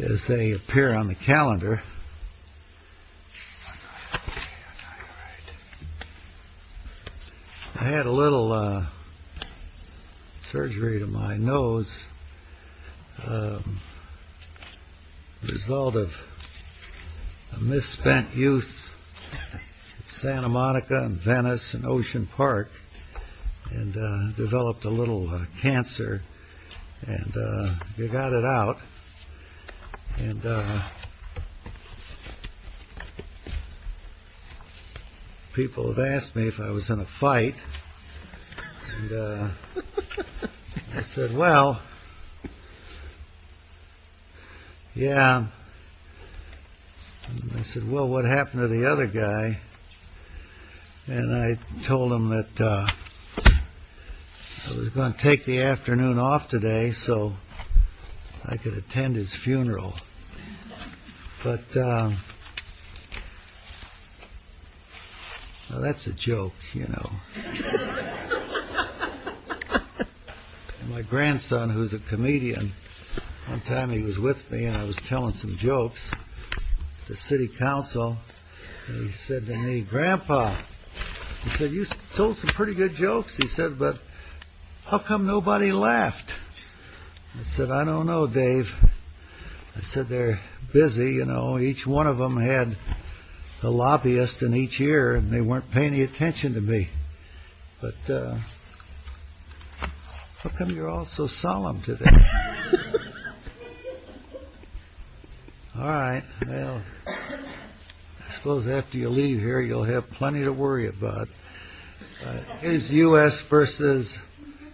As they appear on the calendar, I had a little surgery to my nose, a result of a misspent youth in Santa Monica and Venice and Ocean Park, and developed a little cancer, and they got it out. People have asked me if I was in a fight, and I said, well, yeah. They said, well, what happened to the other guy? And I told them that I was going to take the afternoon off today so I could attend his funeral. But that's a joke, you know. My grandson, who's a comedian, one time he was with me and I was telling some jokes to city council. He said to I said, I don't know, Dave. I said, they're busy. You know, each one of them had a lobbyist in each ear and they weren't paying attention to me. But how come you're all so solemn today? All right. Well, I suppose after you leave here, you'll have plenty to worry about. Here's U.S. v.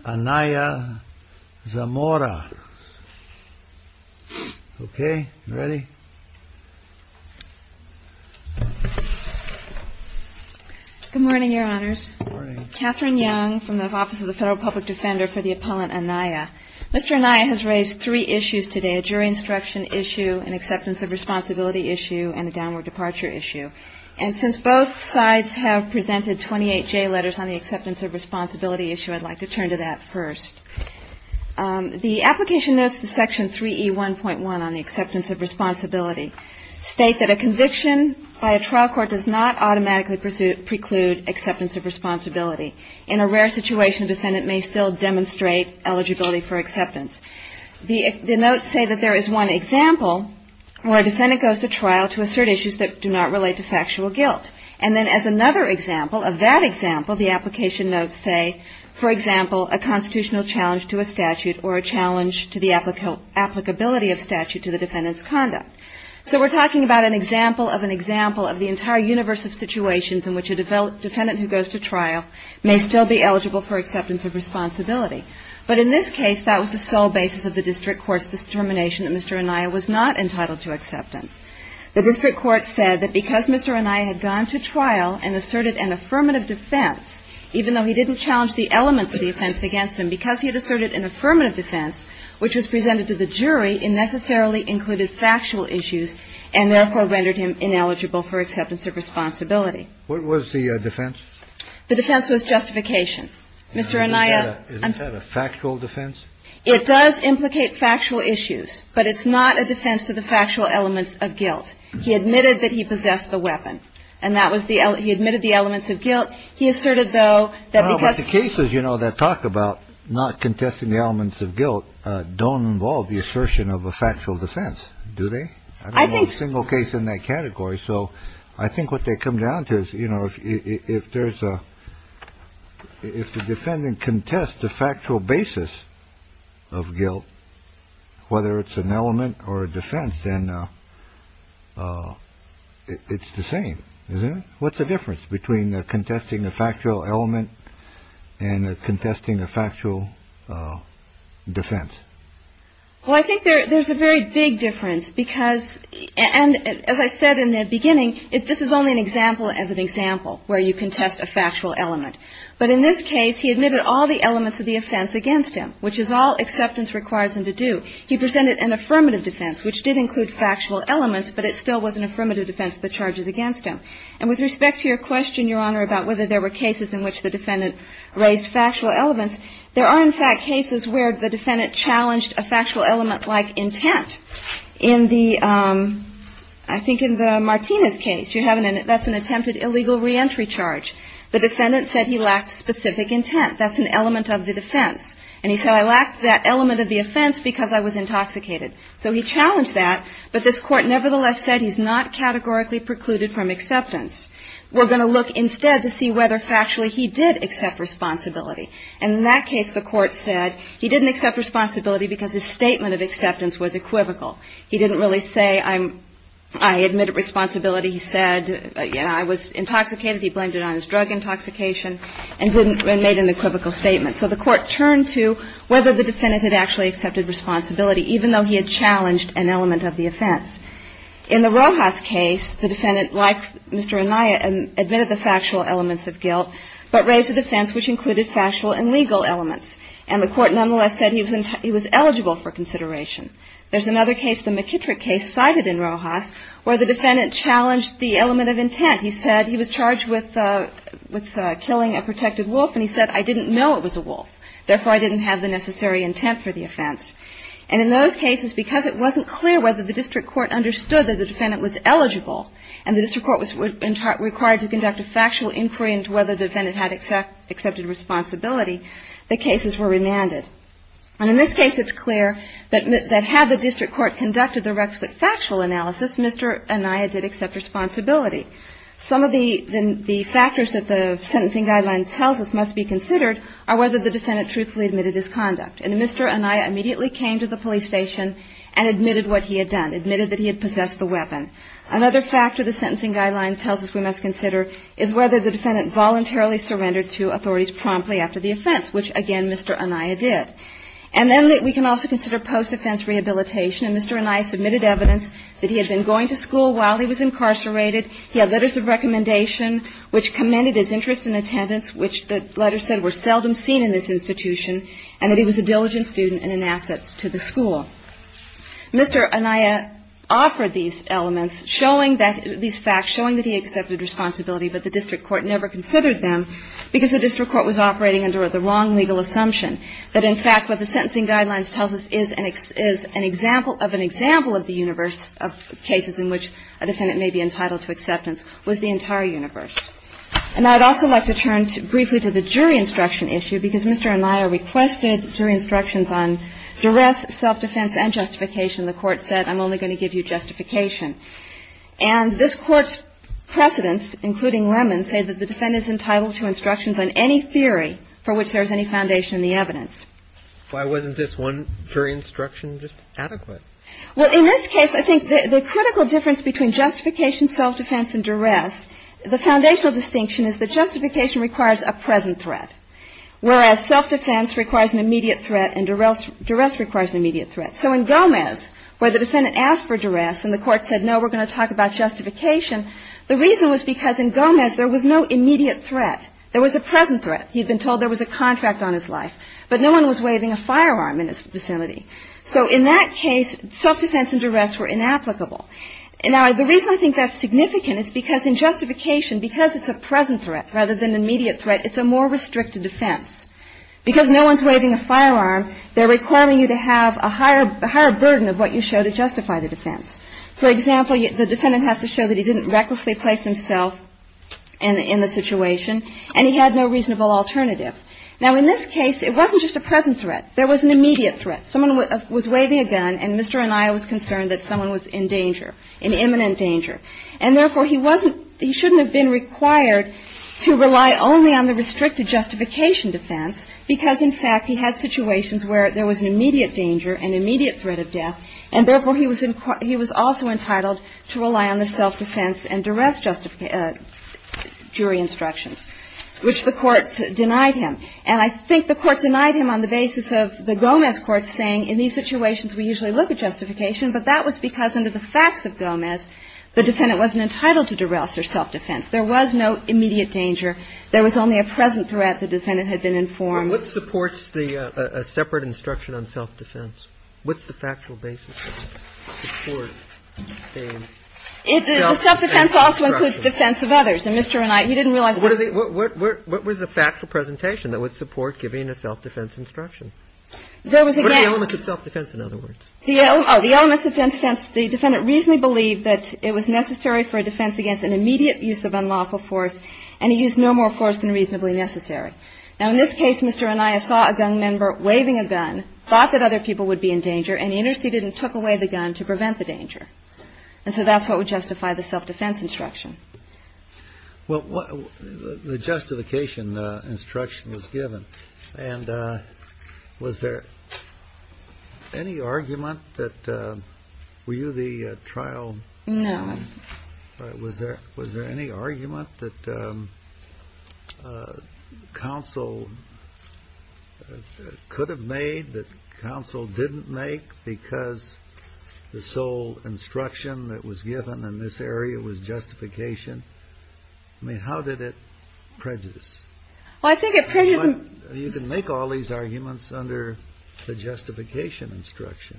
ANAYA-ZAMORA. OK. Ready? Good morning, Your Honors. Catherine Young from the Office of the Federal Public Defender for the Appellant Anaya. Mr. Anaya has raised three issues today. A jury instruction issue, an acceptance of responsibility issue, and a downward departure issue. And since both sides have presented 28 J letters on the acceptance of responsibility issue, I'd like to turn to that first. The application notes to Section 3E1.1 on the acceptance of responsibility state that a conviction by a trial court does not automatically preclude acceptance of responsibility. In a rare situation, a defendant may still demonstrate eligibility for acceptance of responsibility. But in this case, that was the sole basis of the district court's determination of eligibility. The application notes say that there is one example where a defendant goes to trial to assert issues that do not relate to factual guilt. And then as another example of that example, the application notes say, for example, a constitutional challenge to a statute or a challenge to the applicability of statute to the defendant's conduct. So we're talking about an example of an example of the entire universe of the United States. Now, if you look at Section 3E1.1 on the acceptance of responsibility, you'll see that there is no justification that Mr. Anaya was not entitled to acceptance. The district court said that because Mr. Anaya had gone to trial and asserted an affirmative defense, even though he didn't challenge the elements of the offense against him, because he had asserted an affirmative defense which was presented to the jury, it necessarily was not a defense to the factual elements of guilt. He admitted that he possessed the weapon. And that was the he admitted the elements of guilt. He asserted, though, that because the cases, you know, that talk about not contesting the elements of guilt don't involve the assertion of a factual defense, do they? I think a single case in that category. So I think what they come down to is, you know, if there's a if the defendant contests the factual basis of guilt, whether it's an element or a defense, then it's the same. What's the difference between contesting the factual element and contesting the factual defense? Well, I think there's a very big difference because. And as I said in the beginning, this is only an example of an example where you contest a factual element. But in this case, he admitted all the elements of the offense against him, which is all acceptance requires him to do. He presented an affirmative defense, which did include factual elements, but it still was an affirmative defense but charges against him. And with respect to your question, Your Honor, about whether there were cases in which the defendant raised factual elements, there are, in fact, cases where the defendant challenged a factual element like intent. In the I think in the Martinez case, you have an that's an attempted illegal reentry charge. The defendant said he lacked specific intent. That's an element of the defense. And he said, I lacked that element of the offense because I was intoxicated. So he challenged that. But this Court nevertheless said he's not categorically precluded from acceptance. We're going to look instead to see whether factually he did accept responsibility. And in that case, the Court said he didn't accept responsibility because his statement of acceptance was equivocal. He didn't really say, I'm I admit responsibility. He said, you know, I was intoxicated. He blamed it on his drug intoxication and didn't make an equivocal statement. So the Court turned to whether the defendant had actually accepted responsibility, even though he had challenged an element of the offense. In the Rojas case, the defendant, like Mr. Anaya, admitted the factual elements of guilt, but raised a defense which included factual and legal elements. And the Court nonetheless said he was eligible for consideration. There's another case, the McKittrick case cited in Rojas, where the defendant challenged the element of intent. He said he was charged with killing a protected wolf, and he said, I didn't know it was a wolf. Therefore, I didn't have the necessary intent for the offense. And in those cases, because it wasn't clear whether the district court understood that the defendant was eligible and the district court was required to conduct a factual inquiry into whether the defendant had accepted responsibility, the cases were remanded. And in this case, it's clear that had the district court conducted the requisite factual analysis, Mr. Anaya did accept responsibility. Some of the factors that the sentencing guideline tells us must be considered are whether the defendant truthfully admitted his conduct. And Mr. Anaya immediately came to the police station and admitted what he had done, admitted that he had possessed the weapon. Another factor the sentencing guideline tells us we must consider is whether the defendant voluntarily surrendered to authorities promptly after the offense, which, again, Mr. Anaya did. And then we can also consider post-offense rehabilitation. And Mr. Anaya submitted evidence that he had been going to school while he was incarcerated. He had letters of recommendation which commended his interest in attendance, which the letters said were seldom seen in this institution, and that he was a diligent student and an asset to the school. Mr. Anaya offered these elements, showing that these facts, showing that he accepted responsibility, but the district court never considered them because the district court was operating under the wrong legal assumption, that, in fact, what the sentencing guidelines tells us is an example of an example of the universe of cases in which a defendant may be entitled to acceptance was the entire universe. And I would also like to turn briefly to the jury instruction issue because Mr. Anaya requested jury instructions on duress, self-defense and justification. The Court said, I'm only going to give you justification. And this Court's precedents, including Lemmon, say that the defendant is entitled to instructions on any theory for which there is any foundation in the evidence. Why wasn't this one jury instruction just adequate? Well, in this case, I think the critical difference between justification, self-defense and duress, the foundational distinction is that justification requires a present threat, whereas self-defense requires an immediate threat and duress requires an immediate threat. So in Gomez, where the defendant asked for duress and the Court said, no, we're going to talk about justification, the reason was because in Gomez there was no immediate threat. There was a present threat. He had been told there was a contract on his life, but no one was waving a firearm in his vicinity. So in that case, self-defense and duress were inapplicable. Now, the reason I think that's significant is because in justification, because it's a present threat rather than an immediate threat, it's a more restricted defense. Because no one's waving a firearm, they're requiring you to have a higher burden of what you show to justify the defense. For example, the defendant has to show that he didn't recklessly place himself in the situation and he had no reasonable alternative. Now, in this case, it wasn't just a present threat. There was an immediate threat. Someone was waving a gun and Mr. Anaya was concerned that someone was in danger, in imminent danger. And therefore, he wasn't – he shouldn't have been required to rely only on the restricted justification defense because, in fact, he had situations where there was an immediate danger, an immediate threat of death, and therefore, he was also entitled to rely on the self-defense and duress jury instructions, which the Court denied him. And I think the Court denied him on the basis of the Gomez court saying in these situations we usually look at justification, but that was because under the facts of Gomez, the defendant wasn't entitled to duress or self-defense. There was no immediate danger. There was only a present threat, the defendant had been informed. And what supports the separate instruction on self-defense? What's the factual basis of that? The self-defense also includes defense of others. And Mr. Anaya, you didn't realize that. What was the factual presentation that would support giving a self-defense instruction? What are the elements of self-defense, in other words? The elements of self-defense. The defendant reasonably believed that it was necessary for a defense against an immediate use of unlawful force, and he used no more force than reasonably necessary. Now, in this case, Mr. Anaya saw a gun member waving a gun, thought that other people would be in danger, and he interceded and took away the gun to prevent the danger. And so that's what would justify the self-defense instruction. Well, the justification instruction was given. And was there any argument that you were the trial? No. Was there any argument that counsel could have made that counsel didn't make because the sole instruction that was given in this area was justification? I mean, how did it prejudice? Well, I think it prejudiced. You can make all these arguments under the justification instruction.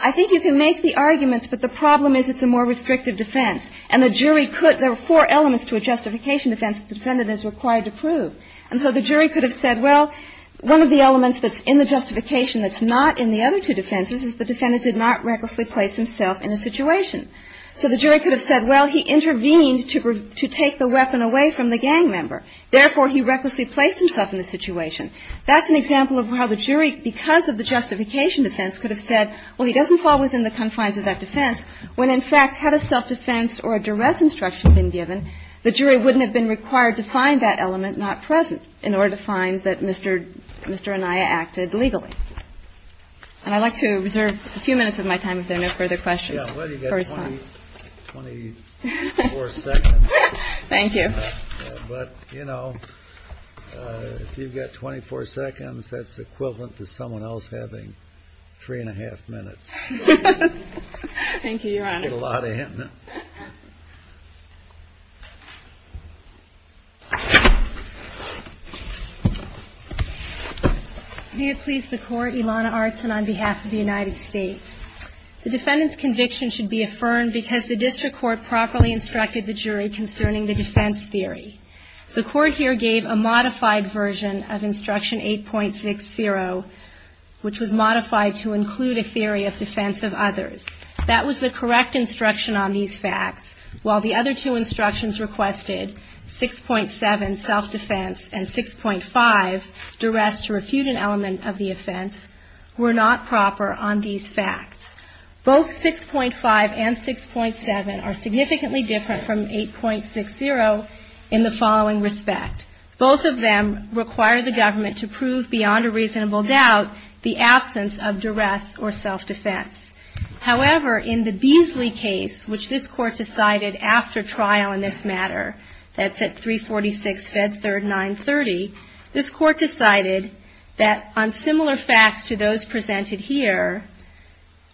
I think you can make the arguments, but the problem is it's a more restrictive defense. And the jury could – there were four elements to a justification defense that the defendant is required to prove. And so the jury could have said, well, one of the elements that's in the justification that's not in the other two defenses is the defendant did not recklessly place himself in a situation. So the jury could have said, well, he intervened to take the weapon away from the gang member. Therefore, he recklessly placed himself in the situation. That's an example of how the jury, because of the justification defense, could have said, well, he doesn't fall within the confines of that defense, when, in fact, had a self-defense or a duress instruction been given, the jury wouldn't have been required to find that element not present in order to find that Mr. Anaya acted legally. And I'd like to reserve a few minutes of my time if there are no further questions for response. Yeah, well, you've got 24 seconds. Thank you. But, you know, if you've got 24 seconds, that's equivalent to someone else having three and a half minutes. Thank you, Your Honor. You get a lot in. May it please the Court, Ilana Artson on behalf of the United States. The defendant's conviction should be affirmed because the district court properly instructed the jury concerning the defense theory. The Court here gave a modified version of Instruction 8.60, which was modified to include a theory of defense of others. That was the correct instruction on these facts, while the other two instructions requested, 6.7, self-defense, and 6.5, duress to refute an element of the offense, were not proper on these facts. Both 6.5 and 6.7 are significantly different from 8.60 in the following respect. Both of them require the government to prove beyond a reasonable doubt the absence of duress or self-defense. However, in the Beasley case, which this Court decided after trial in this matter, that's at 346 Fed Third 930, this Court decided that on similar facts to those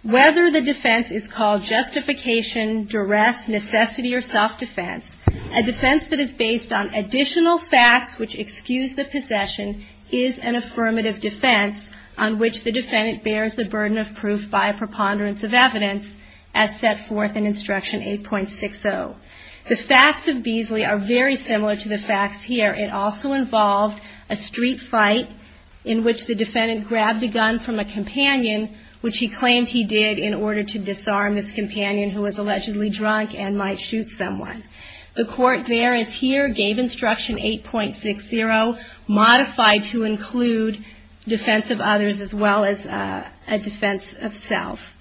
whether the defense is called justification, duress, necessity, or self-defense, a defense that is based on additional facts which excuse the possession is an affirmative defense on which the defendant bears the burden of proof by a preponderance of evidence as set forth in Instruction 8.60. The facts of Beasley are very similar to the facts here. It also involved a street fight in which the defendant grabbed a gun from a companion who was allegedly drunk and might shoot someone. The Court there, as here, gave Instruction 8.60, modified to include defense of others as well as a defense of self.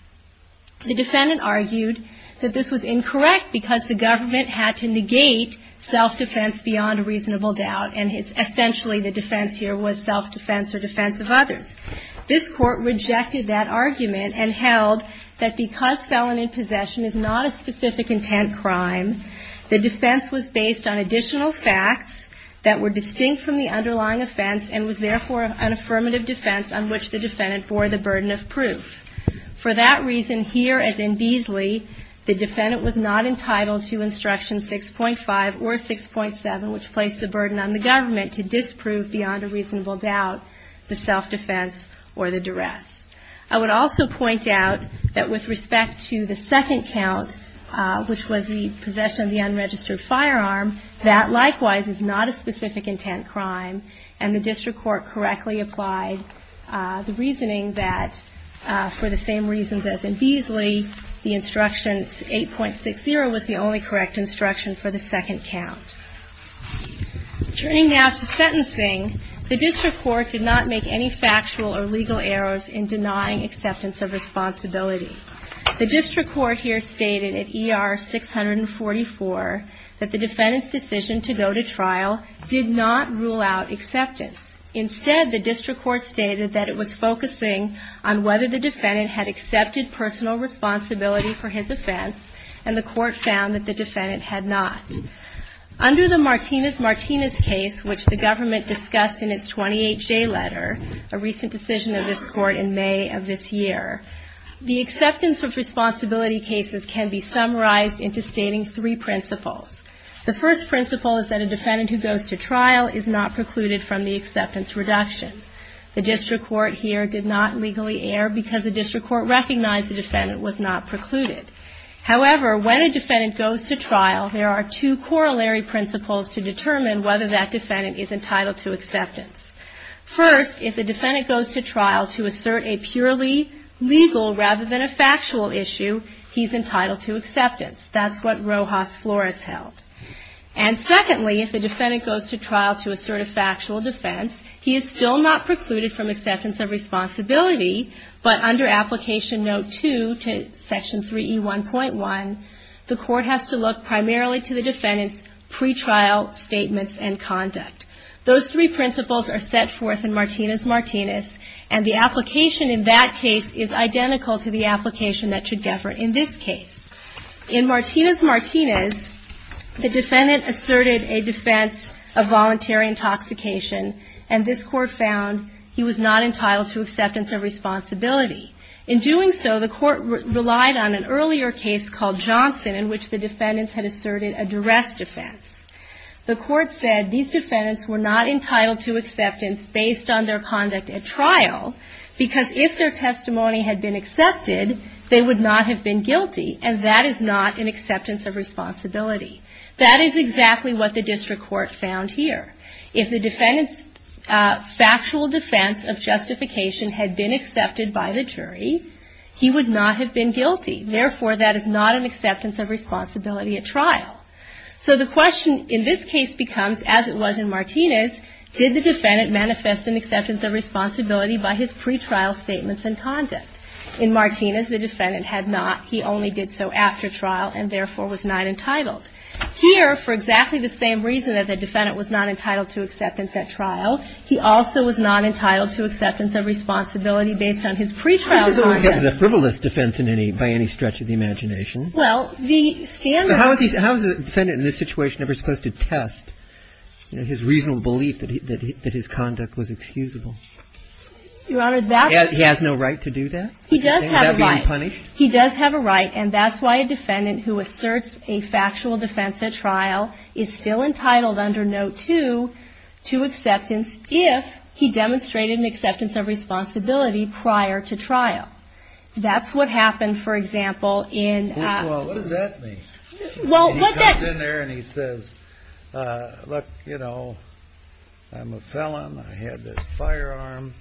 The defendant argued that this was incorrect because the government had to negate self-defense beyond a reasonable doubt, and essentially the defense here was self-defense or defense of others. This Court rejected that argument and held that because felon in possession is not a specific intent crime, the defense was based on additional facts that were distinct from the underlying offense and was therefore an affirmative defense on which the defendant bore the burden of proof. For that reason, here as in Beasley, the defendant was not entitled to Instruction 6.5 or 6.7, which placed the burden on the government to disprove beyond a reasonable doubt the self-defense or the duress. I would also point out that with respect to the second count, which was the possession of the unregistered firearm, that likewise is not a specific intent crime, and the District Court correctly applied the reasoning that for the same reasons as in Beasley, the Instruction 8.60 was the only correct instruction for the second count. Turning now to sentencing, the District Court did not make any factual or legal errors in denying acceptance of responsibility. The District Court here stated at ER 644 that the defendant's decision to go to trial did not rule out acceptance. Instead, the District Court stated that it was focusing on whether the defendant had accepted personal responsibility for his offense, and the Court found that the defendant had not. Under the Martinez-Martinez case, which the government discussed in its 28-J letter, a recent decision of this Court in May of this year, the acceptance of responsibility cases can be summarized into stating three principles. The first principle is that a defendant who goes to trial is not precluded from the acceptance reduction. The District Court here did not legally err because the District Court recognized the defendant was not precluded. However, when a defendant goes to trial, there are two corollary principles to determine whether that defendant is entitled to acceptance. First, if the defendant goes to trial to assert a purely legal rather than a factual issue, he's entitled to acceptance. That's what Rojas Flores held. And secondly, if the defendant goes to trial to assert a factual defense, he is still not precluded from acceptance of responsibility, but under Application Note 2 to Section 3E1.1, the Court has to look primarily to the defendant's pretrial statements and conduct. Those three principles are set forth in Martinez-Martinez, and the application in that case is identical to the application that should govern in this case. In Martinez-Martinez, the defendant asserted a defense of voluntary intoxication, and this Court found he was not entitled to acceptance of responsibility. In doing so, the Court relied on an earlier case called Johnson, in which the defendants had asserted a duress defense. The Court said these defendants were not entitled to acceptance based on their conduct at trial, because if their testimony had been accepted, they would not have been guilty, and that is not an acceptance of responsibility. That is exactly what the District Court found here. If the defendant's factual defense of justification had been accepted by the jury, he would not have been guilty. Therefore, that is not an acceptance of responsibility at trial. So the question in this case becomes, as it was in Martinez, did the defendant manifest an acceptance of responsibility by his pretrial statements and conduct? In Martinez, the defendant had not. He only did so after trial, and therefore was not entitled. Here, for exactly the same reason that the defendant was not entitled to acceptance at trial, he also was not entitled to acceptance of responsibility based on his pretrial conduct. He doesn't work as a frivolous defense by any stretch of the imagination. Well, the standard How is a defendant in this situation ever supposed to test his reasonable belief that his conduct was excusable? Your Honor, that's He has no right to do that? He does have a right. Is that being punished? He does have a right, and that's why a defendant who asserts a factual defense at trial is still entitled under Note 2 to acceptance if he demonstrated an acceptance of responsibility prior to trial. That's what happened, for example, in Well, what does that mean? He comes in there and he says, Look, you know, I'm a felon. I had this firearm.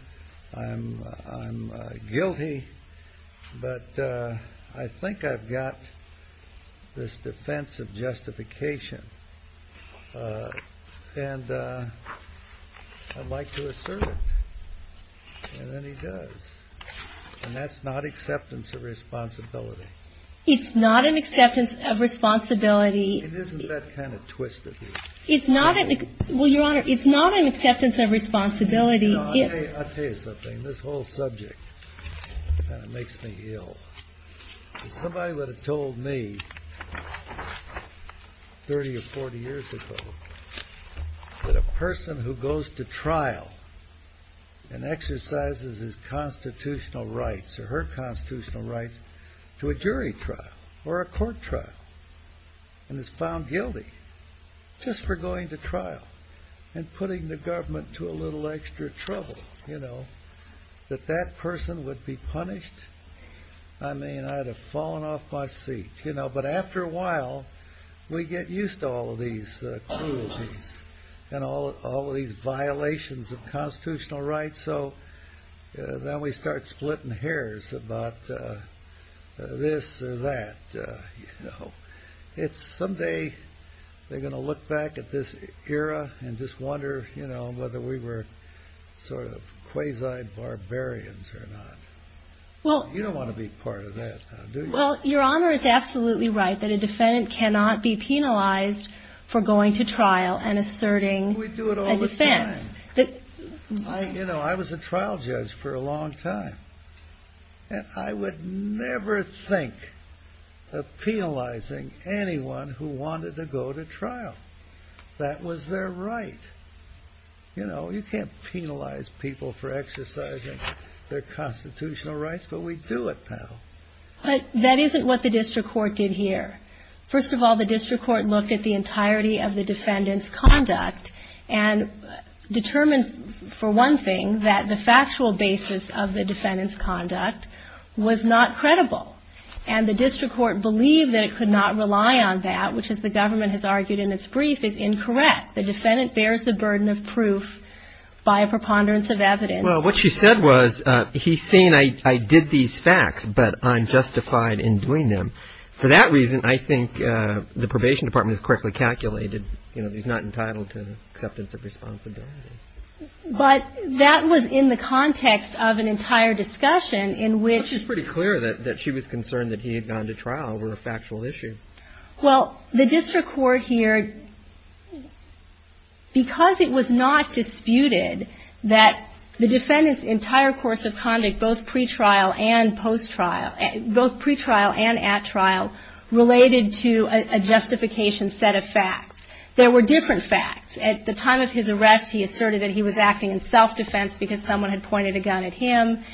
I'm guilty. But I think I've got this defense of justification. And I'd like to assert it. And then he does. And that's not acceptance of responsibility. It's not an acceptance of responsibility. Isn't that kind of twisted? It's not. Well, Your Honor, it's not an acceptance of responsibility. I'll tell you something. This whole subject kind of makes me ill. Somebody would have told me 30 or 40 years ago that a person who goes to trial and exercises his constitutional rights or her constitutional rights to a jury trial or a court trial and is found guilty just for going to trial and putting the government to a little extra trouble, you know, that that person would be punished. I mean, I'd have fallen off my seat. But after a while, we get used to all of these cruelties and all of these violations of constitutional rights. So then we start splitting hairs about this or that. Someday they're going to look back at this era and just wonder, you know, whether we were sort of quasi barbarians or not. You don't want to be part of that now, do you? Well, Your Honor, it's absolutely right that a defendant cannot be penalized for going to trial and asserting a defense. We do it all the time. You know, I was a trial judge for a long time. I would never think of penalizing anyone who wanted to go to trial. That was their right. You know, you can't penalize people for exercising their constitutional rights, but we do it now. But that isn't what the district court did here. First of all, the district court looked at the entirety of the defendant's conduct and determined, for one thing, that the factual basis of the defendant's conduct was not credible. And the district court believed that it could not rely on that, which, as the government has argued in its brief, is incorrect. The defendant bears the burden of proof by a preponderance of evidence. Well, what she said was, he's saying I did these facts, but I'm justified in doing them. For that reason, I think the probation department has correctly calculated, you know, he's not entitled to acceptance of responsibility. But that was in the context of an entire discussion in which he was pretty clear that she was concerned that he had gone to trial over a factual issue. Well, the district court here, because it was not disputed that the defendant's entire course of conduct, both pre-trial and post-trial, both pre-trial and at trial, related to a justification set of facts, there were different facts. At the time of his arrest, he asserted that he was acting in self-defense because someone had pointed a gun at him.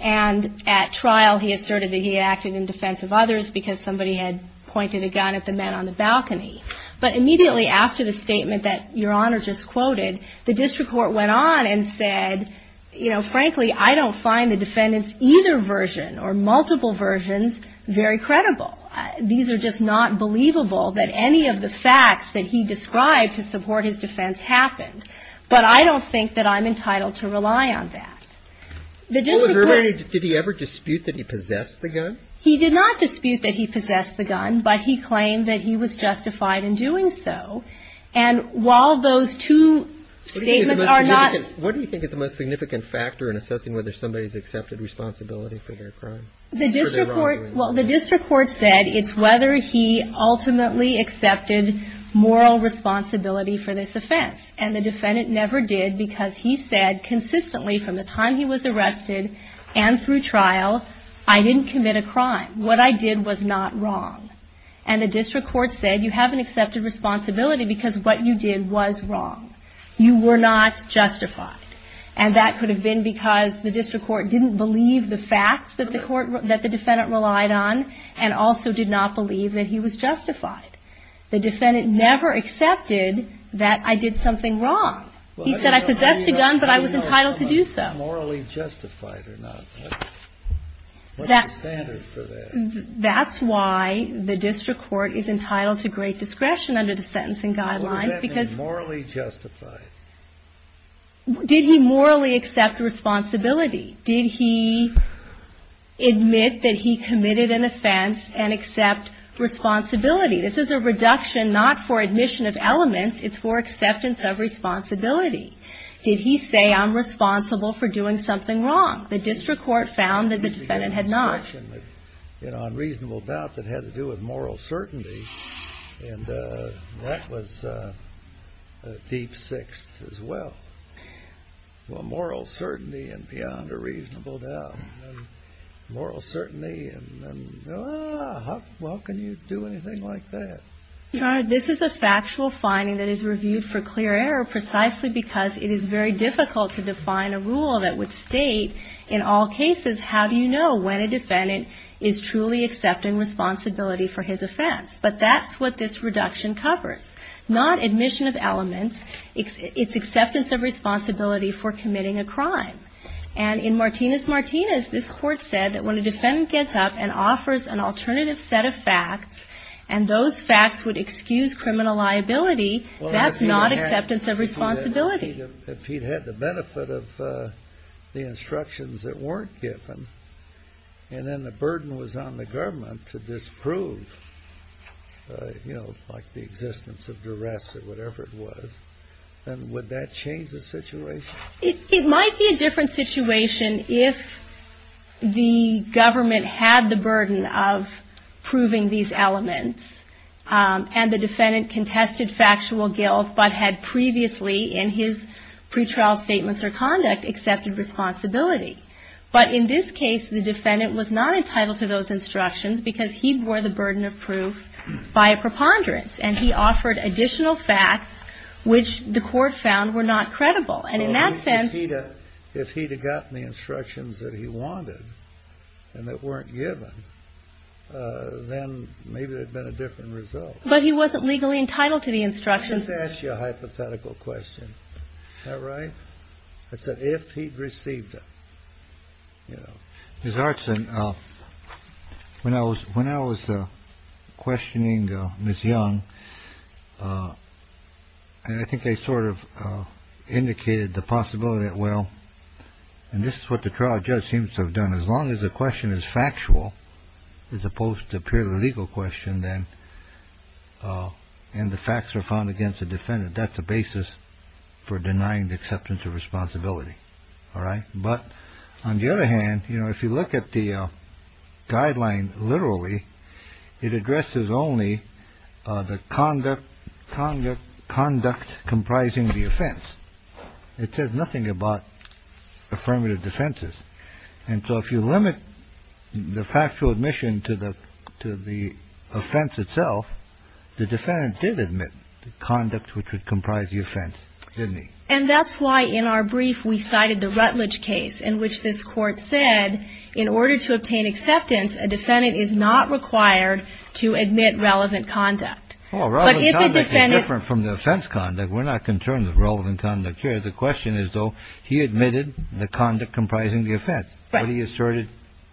And at trial, he asserted that he acted in defense of others because somebody had pointed a gun at the men on the balcony. But immediately after the statement that Your Honor just quoted, the district court went on and said, you know, frankly I don't find the defendant's either version or multiple versions very credible. These are just not believable that any of the facts that he described to support his defense happened. But I don't think that I'm entitled to rely on that. The district court — Well, did he ever dispute that he possessed the gun? He did not dispute that he possessed the gun, but he claimed that he was justified in doing so. And while those two statements are not — What do you think is the most significant factor in assessing whether somebody has accepted responsibility for their crime? The district court — Or their wrongdoing. Well, the district court said it's whether he ultimately accepted moral responsibility for this offense. And the defendant never did because he said consistently from the time he was arrested and through trial, I didn't commit a crime. What I did was not wrong. And the district court said you haven't accepted responsibility because what you did was wrong. You were not justified. And that could have been because the district court didn't believe the facts that the defendant relied on and also did not believe that he was justified. The defendant never accepted that I did something wrong. He said I possessed a gun, but I was entitled to do so. I'm not morally justified or not. What's the standard for that? That's why the district court is entitled to great discretion under the sentencing guidelines because — How is that morally justified? Did he morally accept responsibility? Did he admit that he committed an offense and accept responsibility? This is a reduction not for admission of elements. It's for acceptance of responsibility. Did he say I'm responsible for doing something wrong? The district court found that the defendant had not. You know, unreasonable doubt that had to do with moral certainty. And that was a deep sixth as well. Well, moral certainty and beyond a reasonable doubt. Moral certainty and how can you do anything like that? Your Honor, this is a factual finding that is reviewed for clear error precisely because it is very difficult to define a rule that would state in all cases how do you know when a defendant is truly accepting responsibility for his offense. But that's what this reduction covers. Not admission of elements. It's acceptance of responsibility for committing a crime. And in Martinez-Martinez, this court said that when a defendant gets up and offers an alternative set of facts and those facts would excuse criminal liability, that's not acceptance of responsibility. If he'd had the benefit of the instructions that weren't given and then the burden was on the government to disprove, you know, like the existence of duress or whatever it was, then would that change the situation? It might be a different situation if the government had the burden of proving these elements and the defendant contested factual guilt but had previously, in his pretrial statements or conduct, accepted responsibility. But in this case, the defendant was not entitled to those instructions because he bore the burden of proof by a preponderance. And he offered additional facts which the court found were not credible. And in that sense he'd have – Well, if he'd have gotten the instructions that he wanted and that weren't given, then maybe there'd have been a different result. But he wasn't legally entitled to the instructions. Let me just ask you a hypothetical question. Is that right? I said if he'd received them, you know. Ms. Artson, when I was questioning Ms. Young, I think I sort of indicated the possibility that, well, and this is what the trial judge seems to have done, as long as the question is factual as opposed to a purely legal question, then the facts were found against the defendant. That's a basis for denying the acceptance of responsibility. All right? But on the other hand, you know, if you look at the guideline literally, it addresses only the conduct comprising the offense. It says nothing about affirmative defenses. And so if you limit the factual admission to the offense itself, the defendant did admit the conduct which would comprise the offense, didn't he? And that's why in our brief we cited the Rutledge case, in which this court said in order to obtain acceptance, a defendant is not required to admit relevant conduct. Well, relevant conduct is different from the offense conduct. We're not concerned with relevant conduct here. The question is, though, he admitted the conduct comprising the offense. Right.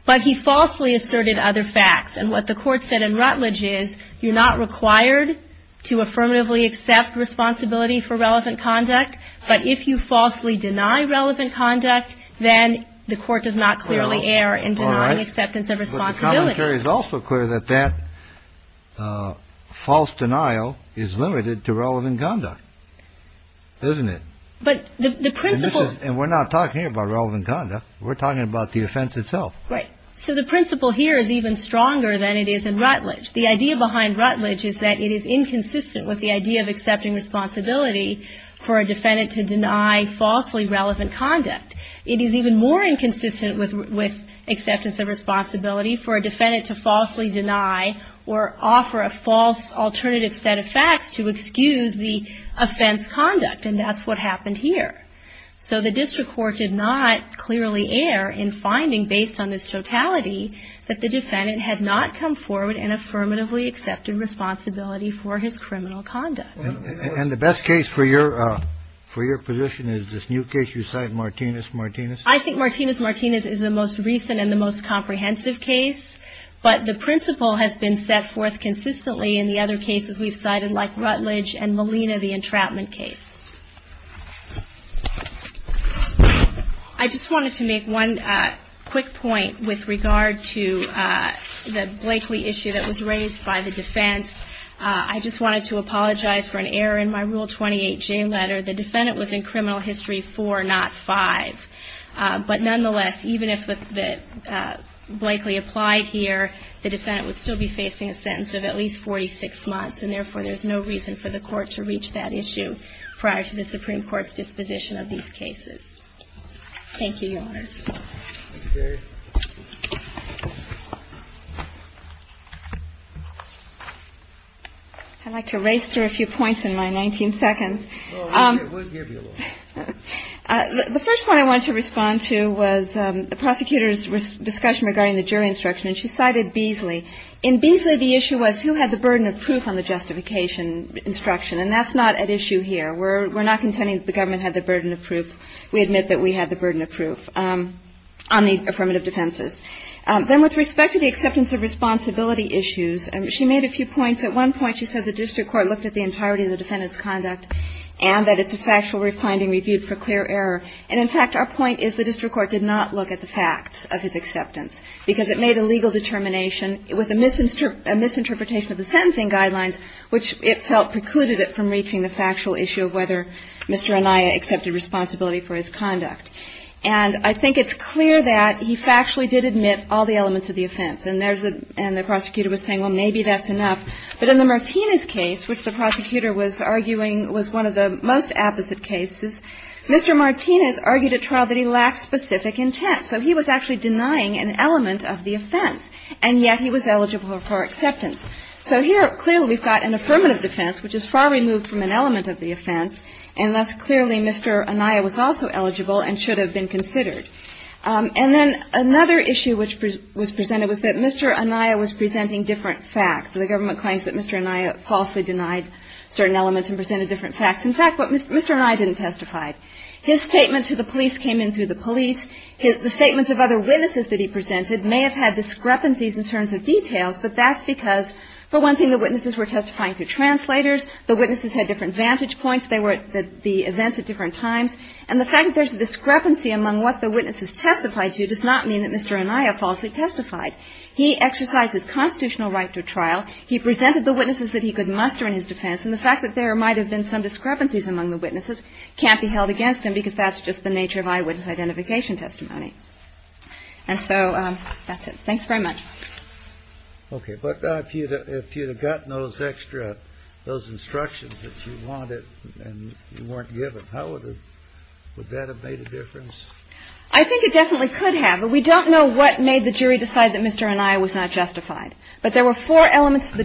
But he falsely asserted other facts. And what the court said in Rutledge is, you're not required to affirmatively accept responsibility for relevant conduct, but if you falsely deny relevant conduct, then the court does not clearly err in denying acceptance of responsibility. But the commentary is also clear that that false denial is limited to relevant conduct, isn't it? But the principle... And we're not talking here about relevant conduct. We're talking about the offense itself. Right. So the principle here is even stronger than it is in Rutledge. The idea behind Rutledge is that it is inconsistent with the idea of accepting responsibility for a defendant to deny falsely relevant conduct. It is even more inconsistent with acceptance of responsibility for a defendant to falsely deny or offer a false alternative set of facts to excuse the offense conduct. And that's what happened here. So the district court did not clearly err in finding, based on this totality, that the defendant had not come forward and affirmatively accepted responsibility for his criminal conduct. And the best case for your position is this new case you cite, Martinez-Martinez? I think Martinez-Martinez is the most recent and the most comprehensive case. But the principle has been set forth consistently in the other cases we've cited, like Rutledge and Molina, the entrapment case. I just wanted to make one quick point with regard to the Blakely issue that was raised by the defense. I just wanted to apologize for an error in my Rule 28J letter. The defendant was in criminal history 4, not 5. But nonetheless, even if Blakely applied here, the defendant would still be facing a sentence of at least 46 months, and therefore there's no reason for the court to reach that issue. So I just wanted to make one quick point with regard to the Blakely issue that was raised by the defense. But nonetheless, even if Blakely applied here, the defendant would still be facing a sentence of at least 46 months, Thank you, Your Honors. We're not contending that the government had the burden of proof. We admit that we had the burden of proof on the affirmative defenses. Then with respect to the acceptance of responsibility issues, she made a few points. At one point, she said the district court looked at the entirety of the defendant's conduct and that it's a factual finding reviewed for clear error. And in fact, our point is the district court did not look at the facts of his acceptance because it made a legal determination with a misinterpretation of the sentencing guidelines, which it felt precluded it from reaching the factual issue of whether Mr. Anaya accepted responsibility for his conduct. And I think it's clear that he factually did admit all the elements of the offense. And there's a – and the prosecutor was saying, well, maybe that's enough. But in the Martinez case, which the prosecutor was arguing was one of the most apposite cases, Mr. Martinez argued at trial that he lacked specific intent. So he was actually denying an element of the offense, and yet he was eligible for acceptance. So here, clearly, we've got an affirmative defense, which is far removed from an element of the offense. And thus, clearly, Mr. Anaya was also eligible and should have been considered. And then another issue which was presented was that Mr. Anaya was presenting different facts. The government claims that Mr. Anaya falsely denied certain elements and presented different facts. In fact, what Mr. Anaya didn't testify, his statement to the police came in through the police. The statements of other witnesses that he presented may have had discrepancies in terms of details, but that's because, for one thing, the witnesses were testifying through translators. The witnesses had different vantage points. They were at the events at different times. And the fact that there's a discrepancy among what the witnesses testified to does not mean that Mr. Anaya falsely testified. He exercised his constitutional right to trial. He presented the witnesses that he could muster in his defense. And the fact that there might have been some discrepancies among the witnesses can't be held against him because that's just the nature of eyewitness identification testimony. And so that's it. Thanks very much. Okay. But if you had gotten those extra, those instructions that you wanted and you weren't given, how would that have made a difference? I think it definitely could have. But we don't know what made the jury decide that Mr. Anaya was not justified. But there were four elements to the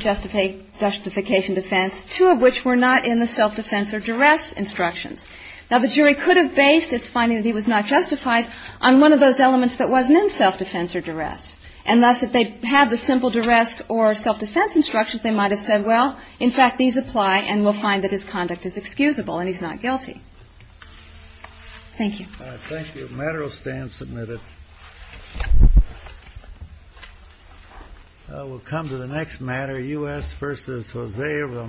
justification defense, two of which were not in the self-defense or duress instructions. Now, the jury could have based its finding that he was not justified on one of those elements that wasn't in self-defense or duress. And thus, if they had the simple duress or self-defense instructions, they might have said, well, in fact, these apply, and we'll find that his conduct is excusable and he's not guilty. Thank you. Thank you. The matter will stand submitted. We'll come to the next matter, U.S. v. Jose.